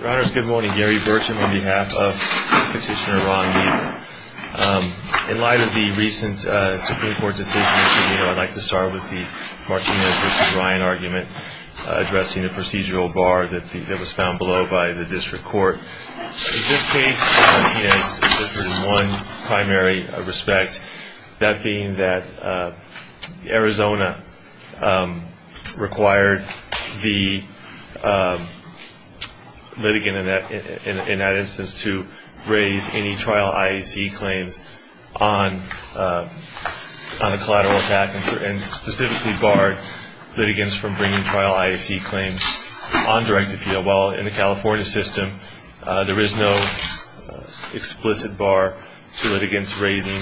Your Honors, good morning. Gary Burcham on behalf of Petitioner Ron Weaver. In light of the recent Supreme Court decision, I'd like to start with the Martinez v. Ryan argument addressing the procedural bar that was found below by the District Court. In this case, the Martinez district court in one primary respect, that being that Arizona required the litigant in that instance to raise any trial IAC claims on a collateral attack and specifically barred litigants from bringing trial IAC claims on direct appeal. While in the California system, there is no explicit bar to litigants raising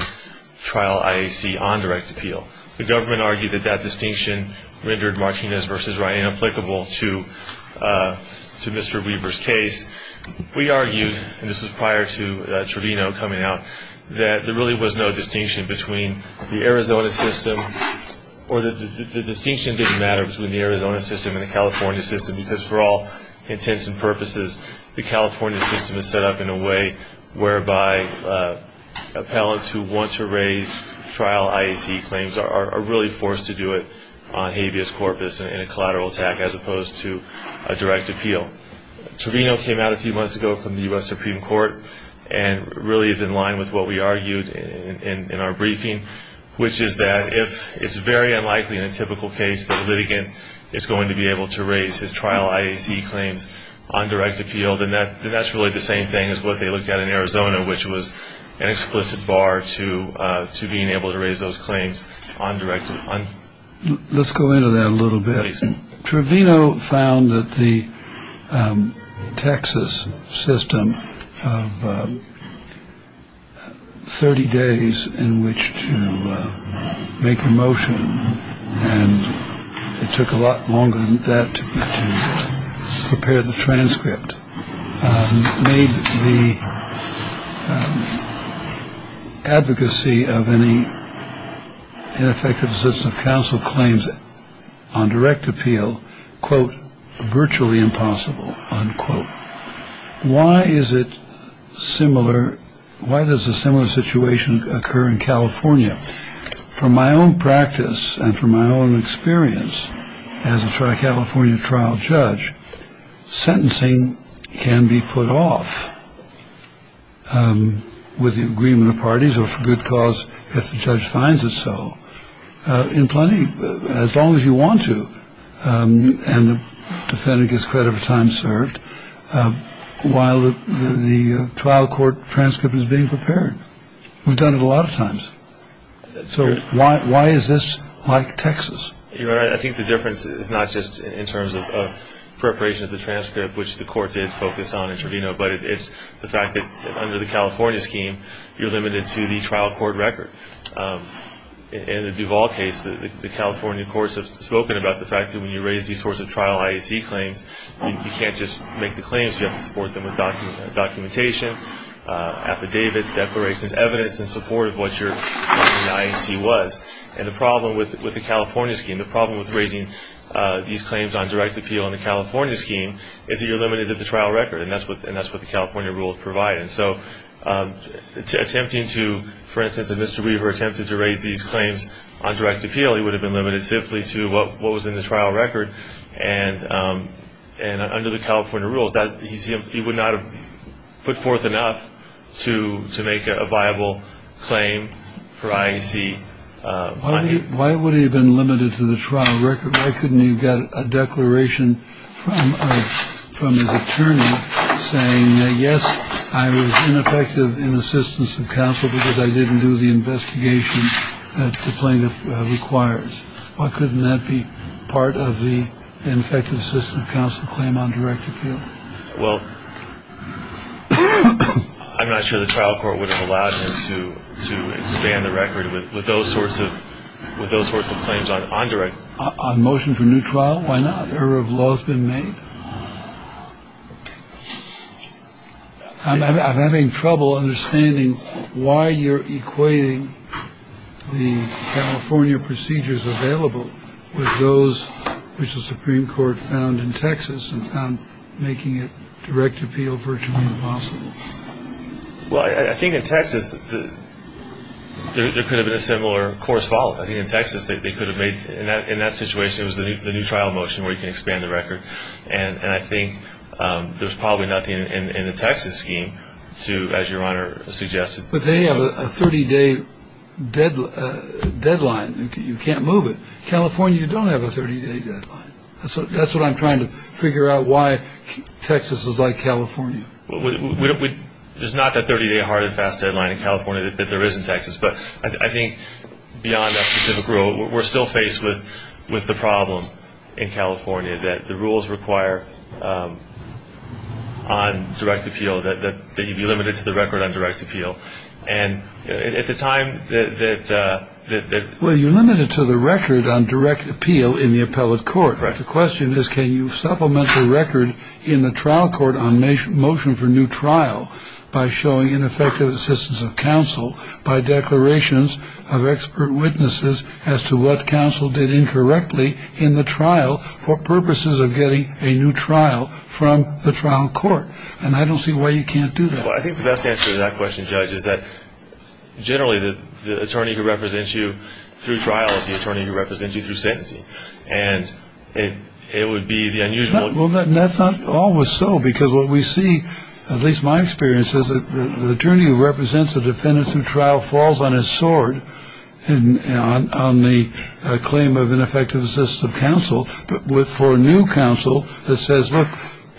trial IAC on direct appeal. The government argued that that distinction rendered Martinez v. Ryan applicable to Mr. Weaver's case. We argued, and this was prior to Trevino coming out, that there really was no distinction between the Arizona system or the distinction didn't matter between the Arizona system and the California system because for all intents and purposes, the California system is set up in a way whereby appellants who want to raise trial IAC claims are really forced to do it on habeas corpus and a collateral attack as opposed to a direct appeal. Trevino came out a few months ago from the U.S. Supreme Court and really is in line with what we argued in our briefing, which is that if it's very unlikely in a typical case that a litigant is going to be able to raise his trial IAC claims on direct appeal, then that's really the same thing as what they looked at in Arizona, which was an explicit bar to being able to raise those claims on direct appeal. Let's go into that a little bit. on direct appeal, quote, virtually impossible, unquote. Why is it similar? Why does a similar situation occur in California? From my own practice and from my own experience as a California trial judge, sentencing can be put off with the agreement of parties or for good cause if the judge finds it so in plenty, as long as you want to. And the defendant gets credit for time served while the trial court transcript is being prepared. We've done it a lot of times. So why is this like Texas? I think the difference is not just in terms of preparation of the transcript, which the court did focus on in Trevino, but it's the fact that under the California scheme, you're limited to the trial court record. In the Duvall case, the California courts have spoken about the fact that when you raise these sorts of trial IAC claims, you can't just make the claims. You have to support them with documentation, affidavits, declarations, evidence in support of what your IAC was. And the problem with the California scheme, the problem with raising these claims on direct appeal in the California scheme is that you're limited to the trial record, and that's what the California rule would provide. And so attempting to, for instance, if Mr. Weaver attempted to raise these claims on direct appeal, he would have been limited simply to what was in the trial record. And under the California rules, he would not have put forth enough to make a viable claim for IAC money. Why would he have been limited to the trial record? Why couldn't he have got a declaration from his attorney saying, yes, I was ineffective in assistance of counsel because I didn't do the investigation that the plaintiff requires? Why couldn't that be part of the ineffective system of counsel claim on direct appeal? Well, I'm not sure the trial court would have allowed him to expand the record with those sorts of claims on direct. On motion for new trial, why not? Error of law has been made. I'm having trouble understanding why you're equating the California procedures available with those which the Supreme Court found in Texas and found making it direct appeal virtually impossible. Well, I think in Texas there could have been a similar course followed. In that situation, it was the new trial motion where you can expand the record. And I think there's probably nothing in the Texas scheme to, as Your Honor suggested. But they have a 30-day deadline. You can't move it. California, you don't have a 30-day deadline. That's what I'm trying to figure out, why Texas is like California. It's not that 30-day hard and fast deadline in California that there is in Texas. But I think beyond that specific rule, we're still faced with the problem in California that the rules require on direct appeal that you be limited to the record on direct appeal. And at the time that the ---- Well, you're limited to the record on direct appeal in the appellate court. Correct. The question is can you supplement the record in the trial court on motion for new trial by showing ineffective assistance of counsel by declarations of expert witnesses as to what counsel did incorrectly in the trial for purposes of getting a new trial from the trial court. And I don't see why you can't do that. Well, I think the best answer to that question, Judge, is that generally the attorney who represents you through trial is the attorney who represents you through sentencing. And it would be the unusual ---- Well, that's not always so, because what we see, at least my experience, is that the attorney who represents the defendant through trial falls on his sword on the claim of ineffective assistance of counsel for a new counsel that says, look,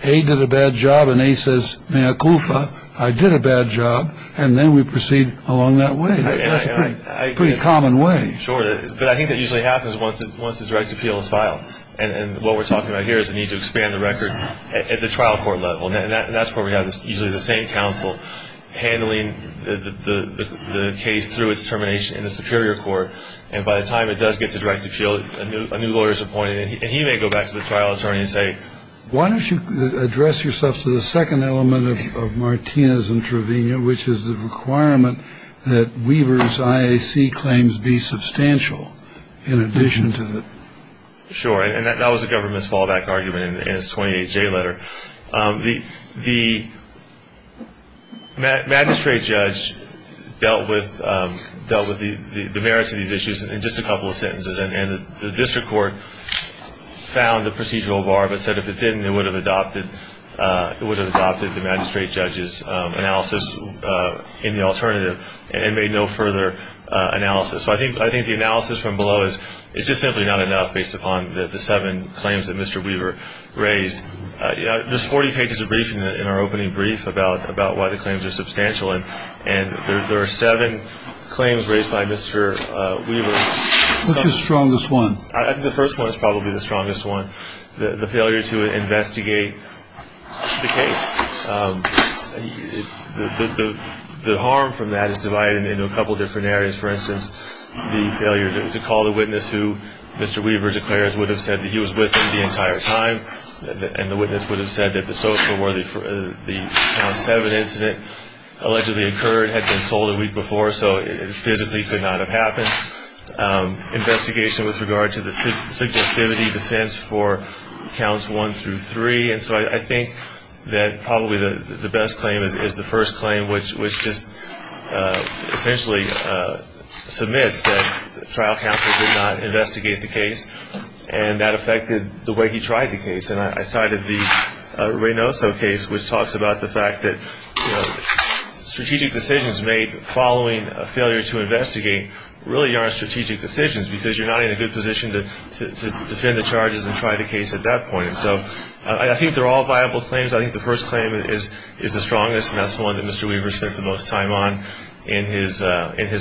A did a bad job. And A says, mea culpa, I did a bad job. And then we proceed along that way. That's a pretty common way. Sure. But I think that usually happens once the direct appeal is filed. And what we're talking about here is the need to expand the record at the trial court level. And that's where we have usually the same counsel handling the case through its termination in the superior court. And by the time it does get to direct appeal, a new lawyer is appointed, and he may go back to the trial attorney and say, Why don't you address yourself to the second element of Martinez's intravenous, which is the requirement that Weaver's IAC claims be substantial in addition to the ---- Sure. And that was the government's fallback argument in its 28J letter. The magistrate judge dealt with the merits of these issues in just a couple of sentences. And the district court found the procedural bar but said if it didn't, it would have adopted the magistrate judge's analysis in the alternative and made no further analysis. So I think the analysis from below is just simply not enough based upon the seven claims that Mr. Weaver raised. There's 40 pages of briefing in our opening brief about why the claims are substantial. And there are seven claims raised by Mr. Weaver. What's your strongest one? I think the first one is probably the strongest one, the failure to investigate the case. The harm from that is divided into a couple different areas. For instance, the failure to call the witness who Mr. Weaver declares would have said that he was with him the entire time and the witness would have said that the SOFA where the count seven incident allegedly occurred had been sold a week before, so it physically could not have happened. Investigation with regard to the suggestivity defense for counts one through three. And so I think that probably the best claim is the first claim, which just essentially submits that trial counsel did not investigate the case and that affected the way he tried the case. And I cited the Reynoso case, which talks about the fact that strategic decisions made following a failure to investigate really aren't strategic decisions because you're not in a good position to defend the charges and try the case at that point. So I think they're all viable claims. I think the first claim is the strongest, and that's the one that Mr. Weaver spent the most time on in his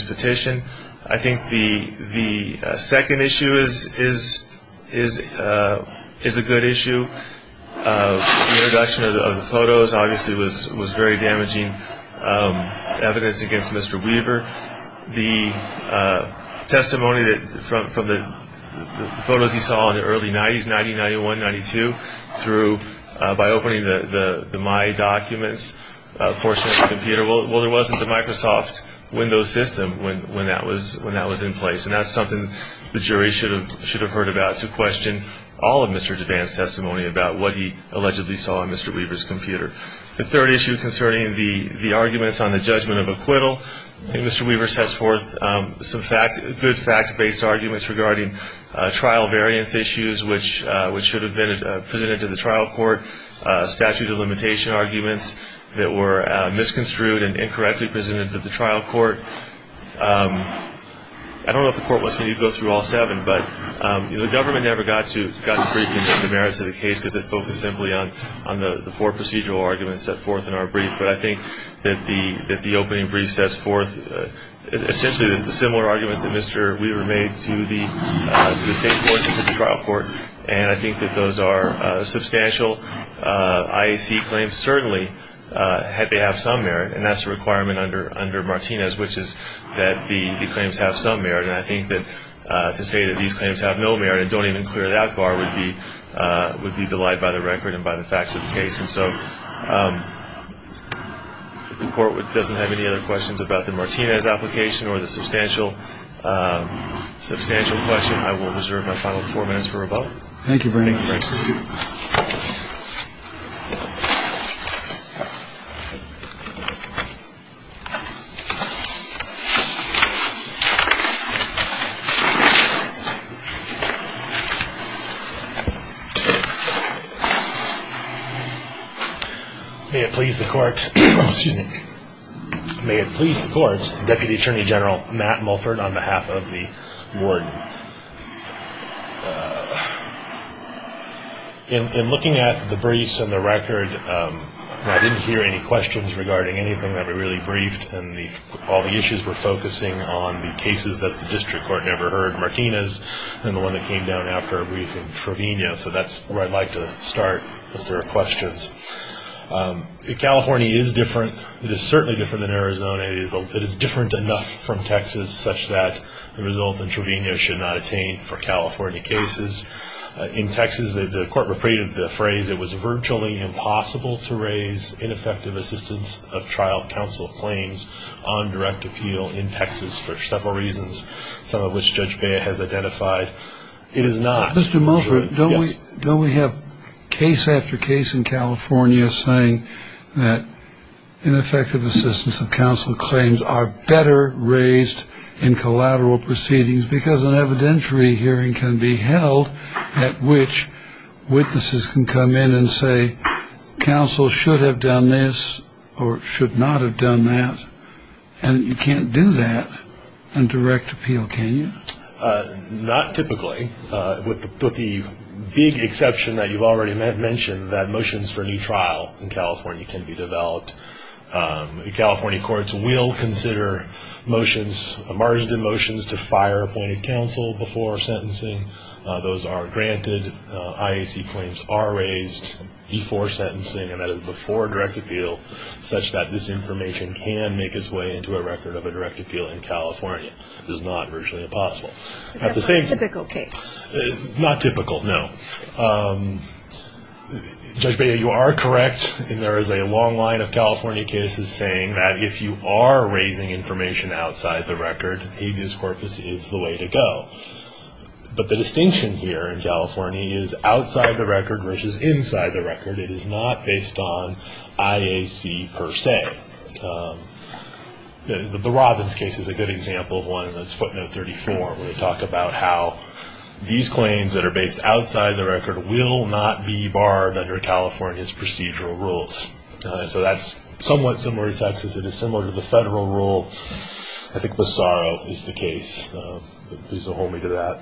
petition. I think the second issue is a good issue. The introduction of the photos obviously was very damaging evidence against Mr. Weaver. The testimony from the photos he saw in the early 90s, 90, 91, 92, through by opening the My Documents portion of the computer. Well, there wasn't the Microsoft Windows system when that was in place, and that's something the jury should have heard about to question all of Mr. DeVance's testimony about what he allegedly saw on Mr. Weaver's computer. The third issue concerning the arguments on the judgment of acquittal. I think Mr. Weaver sets forth some good fact-based arguments regarding trial variance issues, which should have been presented to the trial court, statute of limitation arguments that were misconstrued and incorrectly presented to the trial court. I don't know if the court wants me to go through all seven, but the government never got to the merits of the case because it focused simply on the four procedural arguments set forth in our brief. But I think that the opening brief sets forth essentially the similar arguments that Mr. Weaver made to the state courts and to the trial court, and I think that those are substantial IAC claims. Certainly, they have some merit, and that's a requirement under Martinez, which is that the claims have some merit. And I think that to say that these claims have no merit and don't even clear that bar would be belied by the record and by the facts of the case. And so if the court doesn't have any other questions about the Martinez application or the substantial question, I will reserve my final four minutes for rebuttal. Thank you very much. May it please the court, Deputy Attorney General Matt Mulford on behalf of the warden. In looking at the briefs and the record, I didn't hear any questions regarding anything that we really briefed, and all the issues were focusing on the cases that the district court never heard, and the one that came down after our briefing, Trevino. So that's where I'd like to start if there are questions. California is different. It is certainly different than Arizona. It is different enough from Texas such that the result in Trevino should not attain for California cases. In Texas, the court recreated the phrase, it was virtually impossible to raise ineffective assistance of trial counsel claims on direct appeal in Texas for several reasons, some of which Judge Beyer has identified. It is not. Mr. Mulford, don't we have case after case in California saying that ineffective assistance of counsel claims are better raised in collateral proceedings because an evidentiary hearing can be held at which witnesses can come in and say counsel should have done this or should not have done that, and you can't do that on direct appeal, can you? Not typically, with the big exception that you've already mentioned, that motions for a new trial in California can be developed. The California courts will consider motions, emergent motions to fire appointed counsel before sentencing. Those are granted. IAC claims are raised before sentencing and before direct appeal, such that this information can make its way into a record of a direct appeal in California. It is not virtually impossible. That's not a typical case. Not typical, no. Judge Beyer, you are correct, and there is a long line of California cases saying that if you are raising information outside the record, habeas corpus is the way to go. But the distinction here in California is outside the record versus inside the record. It is not based on IAC per se. The Robbins case is a good example of one, and that's footnote 34, where they talk about how these claims that are based outside the record will not be barred under California's procedural rules. So that's somewhat similar in Texas. It is similar to the federal rule. I think Bassaro is the case. Please hold me to that.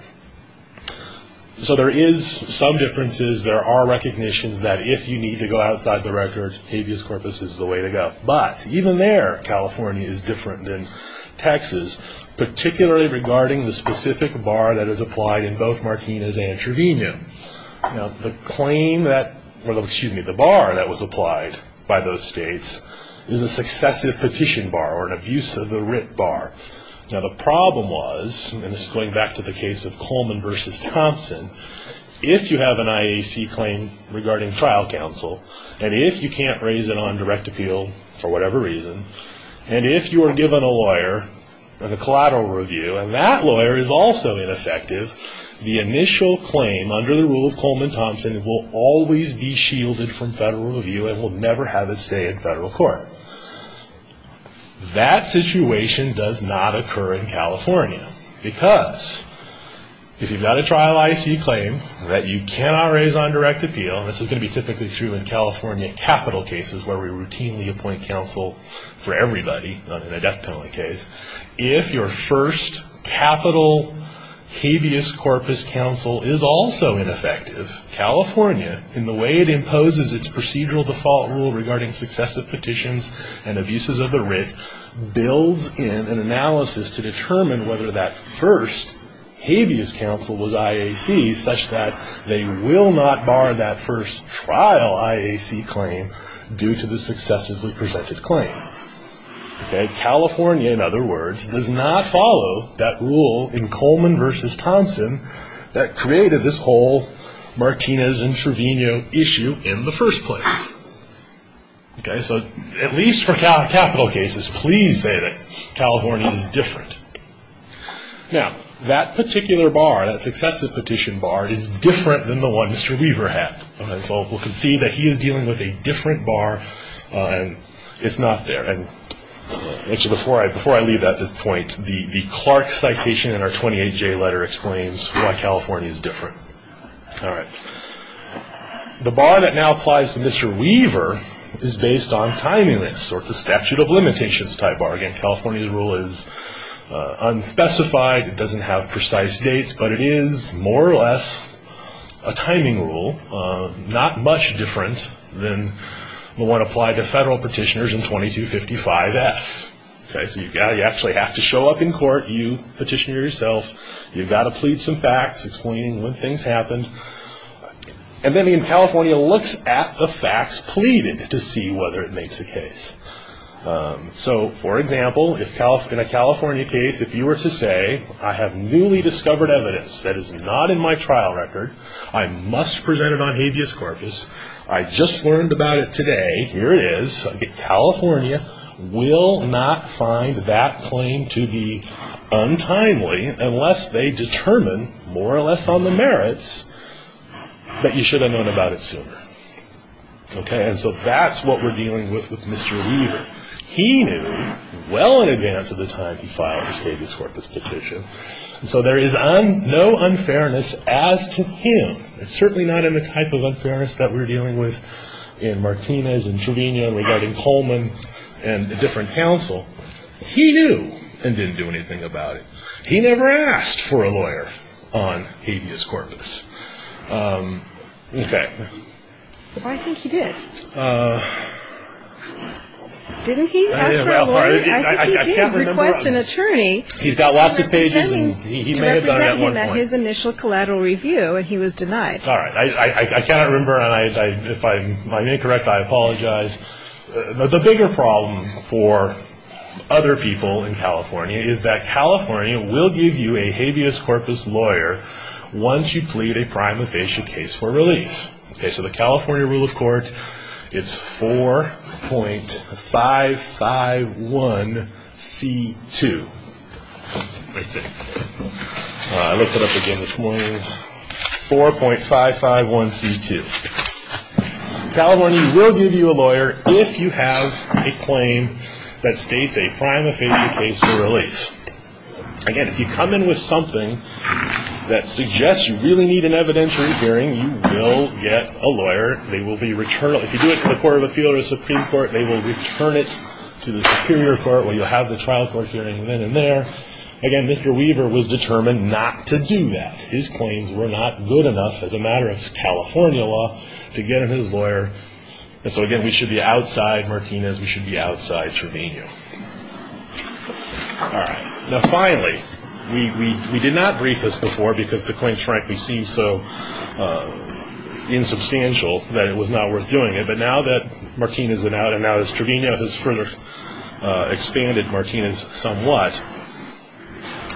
So there is some differences. There are recognitions that if you need to go outside the record, habeas corpus is the way to go. But even there, California is different than Texas, particularly regarding the specific bar that is applied in both Martinez and Trevino. Now, the bar that was applied by those states is a successive petition bar or an abuse of the writ bar. Now, the problem was, and this is going back to the case of Coleman v. Thompson, if you have an IAC claim regarding trial counsel, and if you can't raise it on direct appeal for whatever reason, and if you are given a lawyer and a collateral review, and that lawyer is also ineffective, the initial claim under the rule of Coleman Thompson will always be shielded from federal review and will never have its day in federal court. That situation does not occur in California because if you've got a trial IAC claim that you cannot raise on direct appeal, and this is going to be typically true in California capital cases where we routinely appoint counsel for everybody in a death penalty case, if your first capital habeas corpus counsel is also ineffective, California, in the way it imposes its procedural default rule regarding successive petitions and abuses of the writ builds in an analysis to determine whether that first habeas counsel was IAC such that they will not bar that first trial IAC claim due to the successively presented claim. California, in other words, does not follow that rule in Coleman v. Thompson that created this whole Martinez and Trevino issue in the first place. Okay, so at least for capital cases, please say that California is different. Now, that particular bar, that successive petition bar, is different than the one Mr. Weaver had. So we can see that he is dealing with a different bar, and it's not there. And before I leave at this point, the Clark citation in our 28-J letter explains why California is different. All right. The bar that now applies to Mr. Weaver is based on timeliness, or it's a statute of limitations type bar. Again, California's rule is unspecified. It doesn't have precise dates, but it is more or less a timing rule, not much different than the one applied to federal petitioners in 2255F. Okay, so you actually have to show up in court, you petitioner yourself, you've got to plead some facts explaining when things happened, and then again, California looks at the facts pleaded to see whether it makes a case. So, for example, in a California case, if you were to say, I have newly discovered evidence that is not in my trial record, I must present it on habeas corpus, I just learned about it today, here it is, California will not find that claim to be untimely unless they determine, more or less on the merits, that you should have known about it sooner. Okay, and so that's what we're dealing with with Mr. Weaver. He knew well in advance of the time he filed his habeas corpus petition, so there is no unfairness as to him. It's certainly not in the type of unfairness that we're dealing with in Martinez and Trevena regarding Coleman and the different counsel. He knew and didn't do anything about it. He never asked for a lawyer on habeas corpus. Okay. I think he did. Didn't he ask for a lawyer? I think he did request an attorney. He's got lots of pages and he may have done it at one point. He met his initial collateral review and he was denied. All right. I cannot remember, and if I'm incorrect, I apologize. The bigger problem for other people in California is that California will give you a habeas corpus lawyer once you plead a prima facie case for relief. Okay, so the California rule of court, it's 4.551C2. I think. I looked it up again this morning. 4.551C2. California will give you a lawyer if you have a claim that states a prima facie case for relief. Again, if you come in with something that suggests you really need an evidentiary hearing, you will get a lawyer. They will be returnable. If you do it to the Court of Appeal or the Supreme Court, they will return it to the Superior Court where you'll have the trial court hearing then and there. Again, Mr. Weaver was determined not to do that. His claims were not good enough as a matter of California law to get him his lawyer. And so, again, we should be outside Martinez. We should be outside Trevino. All right. Now, finally, we did not brief this before because the claims frankly seem so insubstantial that it was not worth doing it. But now that Martinez is out and now that Trevino has further expanded Martinez somewhat,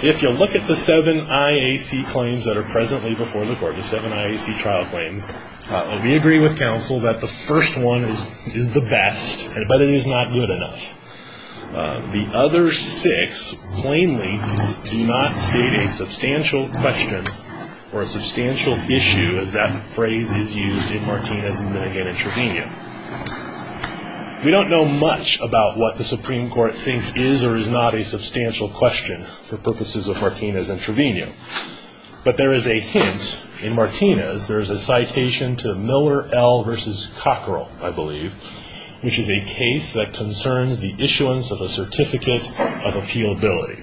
if you look at the seven IAC claims that are presently before the Court, the seven IAC trial claims, we agree with counsel that the first one is the best, but it is not good enough. The other six plainly do not state a substantial question or a substantial issue as that phrase is used in Martinez and then again in Trevino. We don't know much about what the Supreme Court thinks is or is not a substantial question for purposes of Martinez and Trevino. But there is a hint in Martinez. There is a citation to Miller L. v. Cockerell, I believe, which is a case that concerns the issuance of a certificate of appealability.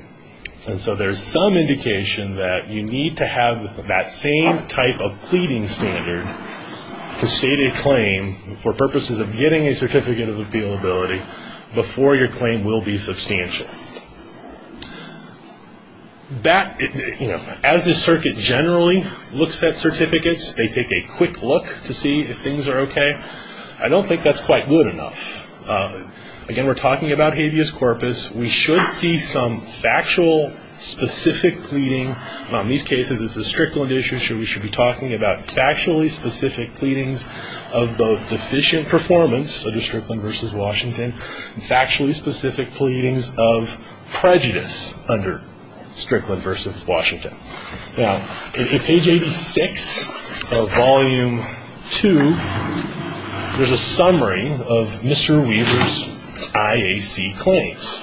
And so there is some indication that you need to have that same type of pleading standard to state a claim for purposes of getting a certificate of appealability before your claim will be substantial. That, you know, as the circuit generally looks at certificates, they take a quick look to see if things are okay. I don't think that's quite good enough. Again, we're talking about habeas corpus. We should see some factual specific pleading. In these cases, it's a Strickland issue, so we should be talking about factually specific pleadings of both deficient performance, under Strickland v. Washington, and factually specific pleadings of prejudice under Strickland v. Washington. Now, in page 86 of volume 2, there's a summary of Mr. Weaver's IAC claims,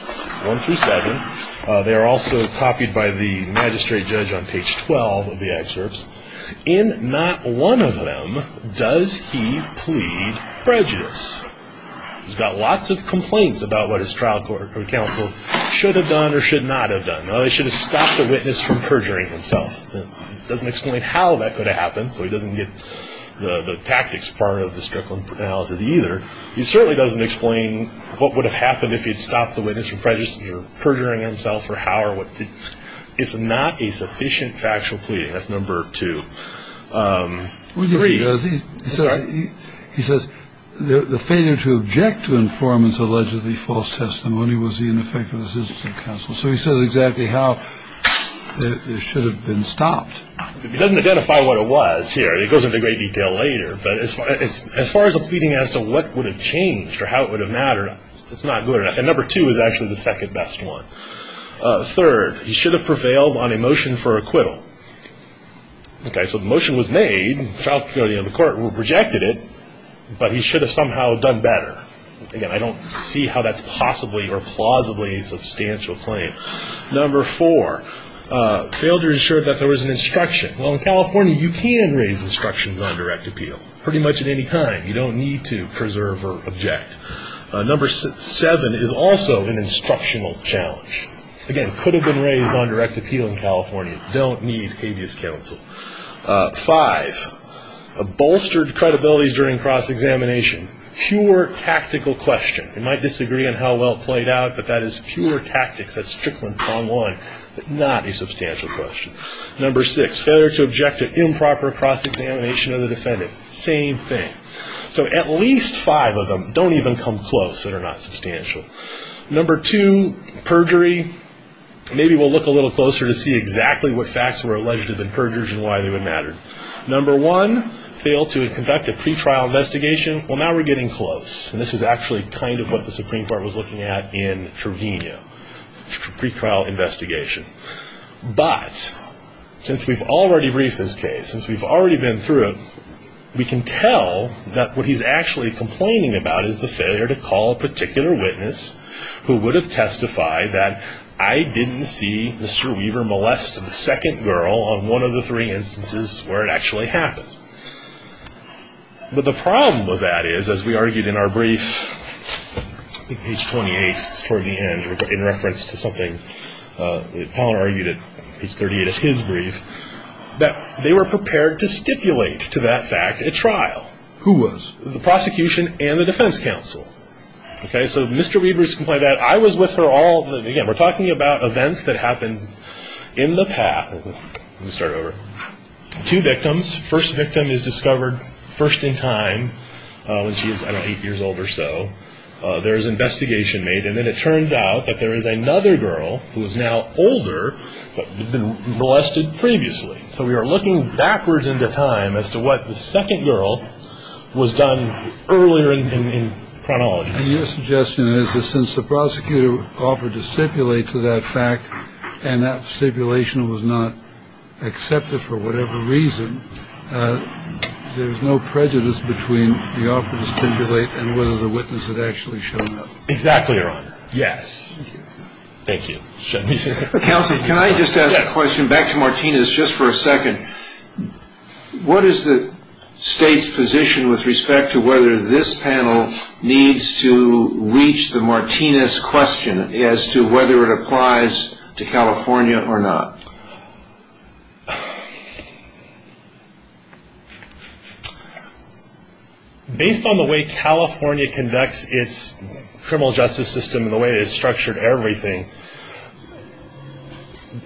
1 through 7. They are also copied by the magistrate judge on page 12 of the excerpts. In not one of them does he plead prejudice. He's got lots of complaints about what his trial counsel should have done or should not have done. He should have stopped the witness from perjuring himself. He doesn't explain how that could have happened, so he doesn't get the tactics part of the Strickland analysis either. He certainly doesn't explain what would have happened if he'd stopped the witness from perjuring himself or how or what. It's not a sufficient factual pleading. That's number two. Three. He says the failure to object to informants' allegedly false testimony was the ineffectiveness of his counsel. So he says exactly how it should have been stopped. He doesn't identify what it was here. It goes into great detail later. But as far as a pleading as to what would have changed or how it would have mattered, it's not good enough. And number two is actually the second best one. Third, he should have prevailed on a motion for acquittal. Okay. So the motion was made. The court rejected it, but he should have somehow done better. Again, I don't see how that's possibly or plausibly a substantial claim. Number four. Failed to ensure that there was an instruction. Well, in California, you can raise instructions on direct appeal pretty much at any time. You don't need to preserve or object. Number seven is also an instructional challenge. Again, could have been raised on direct appeal in California. Don't need habeas counsel. Five. Bolstered credibility during cross-examination. Pure tactical question. You might disagree on how well it played out, but that is pure tactics. That's Strickland prong one, but not a substantial question. Number six. Failure to object to improper cross-examination of the defendant. Same thing. So at least five of them don't even come close that are not substantial. Number two, perjury. Maybe we'll look a little closer to see exactly what facts were alleged to have been perjured and why they would matter. Number one. Failed to conduct a pretrial investigation. Well, now we're getting close. And this is actually kind of what the Supreme Court was looking at in Trevino, pre-trial investigation. But since we've already briefed this case, since we've already been through it, we can tell that what he's actually complaining about is the failure to call a particular witness who would have testified that I didn't see Mr. Weaver molest the second girl on one of the three instances where it actually happened. But the problem with that is, as we argued in our brief, I think page 28 is toward the end, in reference to something that Pollard argued at page 38 of his brief, that they were prepared to stipulate to that fact at trial. Who was? The prosecution and the defense counsel. Okay? So Mr. Weaver's complaint that I was with her all the time. Again, we're talking about events that happened in the past. Let me start over. Two victims. First victim is discovered first in time when she is, I don't know, eight years old or so. There is investigation made. And then it turns out that there is another girl who is now older but had been molested previously. So we are looking backwards into time as to what the second girl was done earlier in chronology. And your suggestion is that since the prosecutor offered to stipulate to that fact and that stipulation was not accepted for whatever reason, there is no prejudice between the offer to stipulate and whether the witness had actually shown up. Exactly, Your Honor. Yes. Thank you. Counsel, can I just ask a question back to Martinez just for a second? What is the State's position with respect to whether this panel needs to reach the Martinez question as to whether it applies to California or not? Based on the way California conducts its criminal justice system and the way it has structured everything,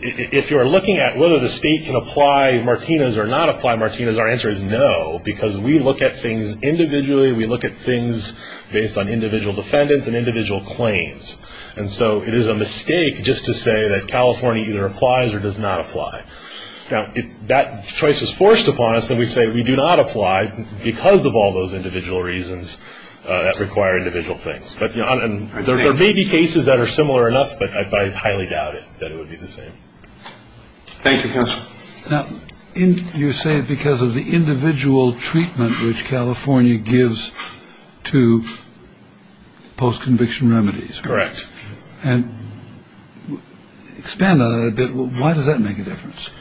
if you are looking at whether the State can apply Martinez or not apply Martinez, our answer is no because we look at things individually. We look at things based on individual defendants and individual claims. And so it is a mistake just to say that California either applies or does not apply. Now, if that choice is forced upon us, then we say we do not apply because of all those individual reasons that require individual things. But there may be cases that are similar enough, but I highly doubt it, that it would be the same. Thank you, Counsel. Now, you say because of the individual treatment which California gives to post-conviction remedies. Correct. And expand on that a bit. Why does that make a difference?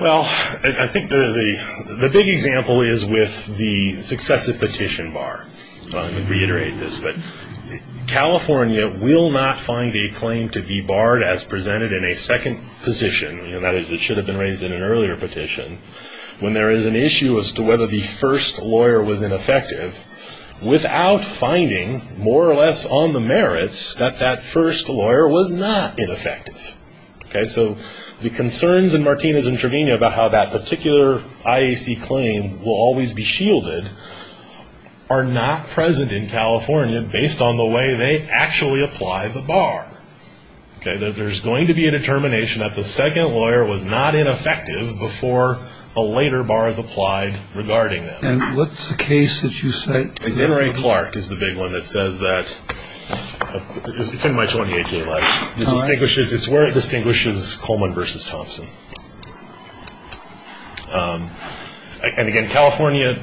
Well, I think the big example is with the successive petition bar. Let me reiterate this. But California will not find a claim to be barred as presented in a second petition, that is it should have been raised in an earlier petition, when there is an issue as to whether the first lawyer was ineffective, without finding more or less on the merits that that first lawyer was not ineffective. So the concerns in Martinez and Trevino about how that particular IAC claim will always be shielded are not present in California based on the way they actually apply the bar. There is going to be a determination that the second lawyer was not ineffective before the later bars applied regarding them. And what's the case that you cite? It's Henry Clark is the big one that says that. It's in my 28-day life. It's where it distinguishes Coleman versus Thompson. And again, California,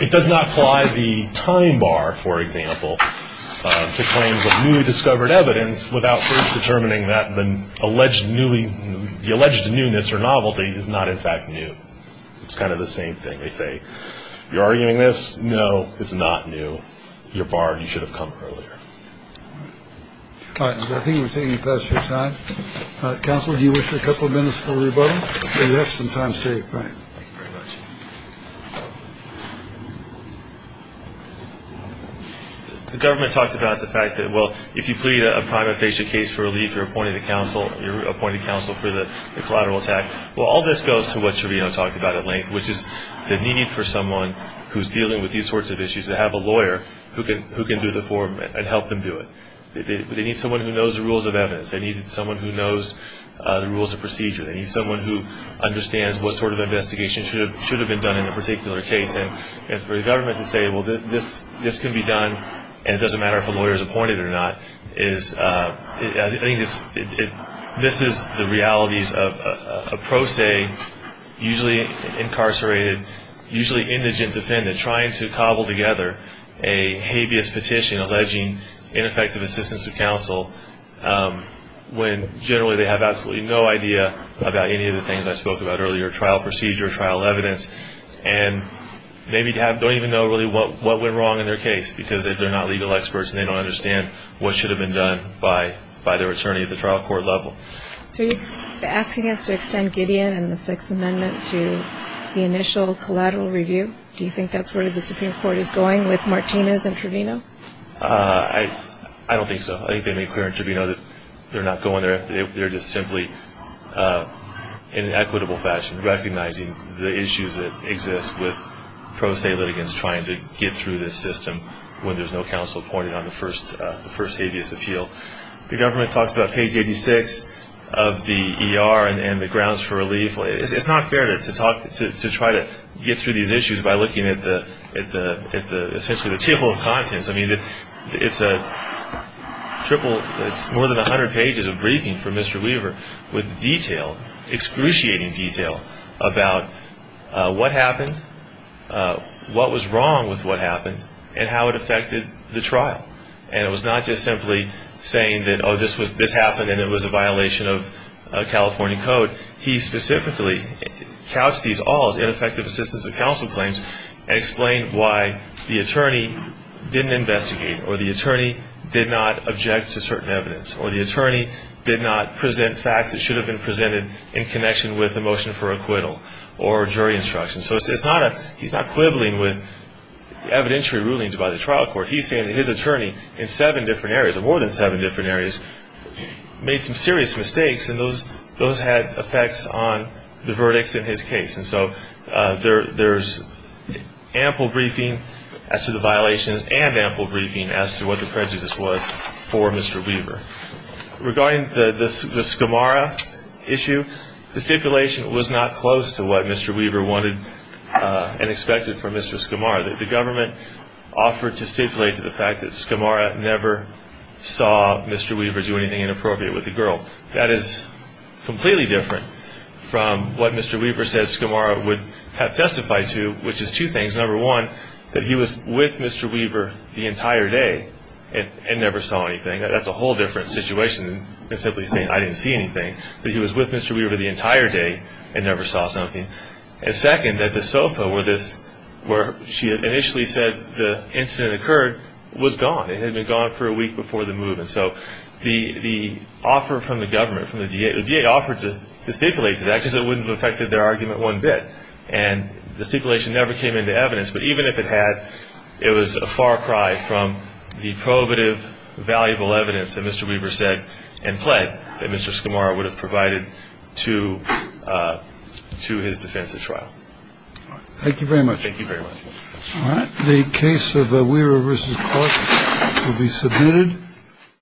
it does not apply the time bar, for example, to claims of newly discovered evidence without first determining that the alleged newness or novelty is not in fact new. It's kind of the same thing. They say, you're arguing this? No, it's not new. You're barred. You should have come earlier. All right. I think we're taking the passage of time. Counsel, do you wish for a couple of minutes for rebuttal? Yes, and time saved. Right. Thank you very much. The government talked about the fact that, well, if you plead a private patient case for relief, you're appointing counsel for the collateral attack. Well, all this goes to what Sherino talked about at length, which is the need for someone who's dealing with these sorts of issues to have a lawyer who can do the form and help them do it. They need someone who knows the rules of evidence. They need someone who knows the rules of procedure. They need someone who understands what sort of investigation should have been done in a particular case. And for the government to say, well, this can be done, and it doesn't matter if a lawyer is appointed or not, this is the realities of a pro se, usually incarcerated, usually indigent defendant, trying to cobble together a habeas petition alleging ineffective assistance of counsel when generally they have absolutely no idea about any of the things I spoke about earlier, trial procedure, trial evidence, and maybe don't even know really what went wrong in their case because they're not legal experts and they don't understand what should have been done by their attorney at the trial court level. So are you asking us to extend Gideon and the Sixth Amendment to the initial collateral review? Do you think that's where the Supreme Court is going with Martinez and Trevino? I don't think so. I think they made clear in Trevino that they're not going there. They're just simply in an equitable fashion recognizing the issues that exist with pro se litigants trying to get through this system when there's no counsel appointed on the first habeas appeal. The government talks about page 86 of the ER and the grounds for relief. It's not fair to try to get through these issues by looking at essentially the table of contents. I mean, it's more than 100 pages of briefing for Mr. Weaver with detail, excruciating detail about what happened, what was wrong with what happened, and how it affected the trial. And it was not just simply saying that, oh, this happened and it was a violation of California code. He specifically couched these all as ineffective assistance of counsel claims and explained why the attorney didn't investigate or the attorney did not object to certain evidence or the attorney did not present facts that should have been presented in connection with the motion for acquittal or jury instruction. So he's not quibbling with evidentiary rulings by the trial court. He's saying that his attorney in seven different areas, more than seven different areas, made some serious mistakes and those had effects on the verdicts in his case. And so there's ample briefing as to the violations and ample briefing as to what the prejudice was for Mr. Weaver. Regarding the Skamara issue, the stipulation was not close to what Mr. Weaver wanted and expected from Mr. Skamara. The government offered to stipulate to the fact that Skamara never saw Mr. Weaver do anything inappropriate with the girl. That is completely different from what Mr. Weaver said Skamara would have testified to, which is two things. Number one, that he was with Mr. Weaver the entire day and never saw anything. That's a whole different situation than simply saying I didn't see anything, that he was with Mr. Weaver the entire day and never saw something. And second, that the sofa where she had initially said the incident occurred was gone. It had been gone for a week before the movement. So the offer from the government, the D.A. offered to stipulate to that because it wouldn't have affected their argument one bit. And the stipulation never came into evidence. But even if it had, it was a far cry from the probative, valuable evidence that Mr. Weaver said and pled that Mr. Skamara would have provided to his defense of trial. Thank you very much. Thank you very much. The case of Weaver vs. Clark will be submitted.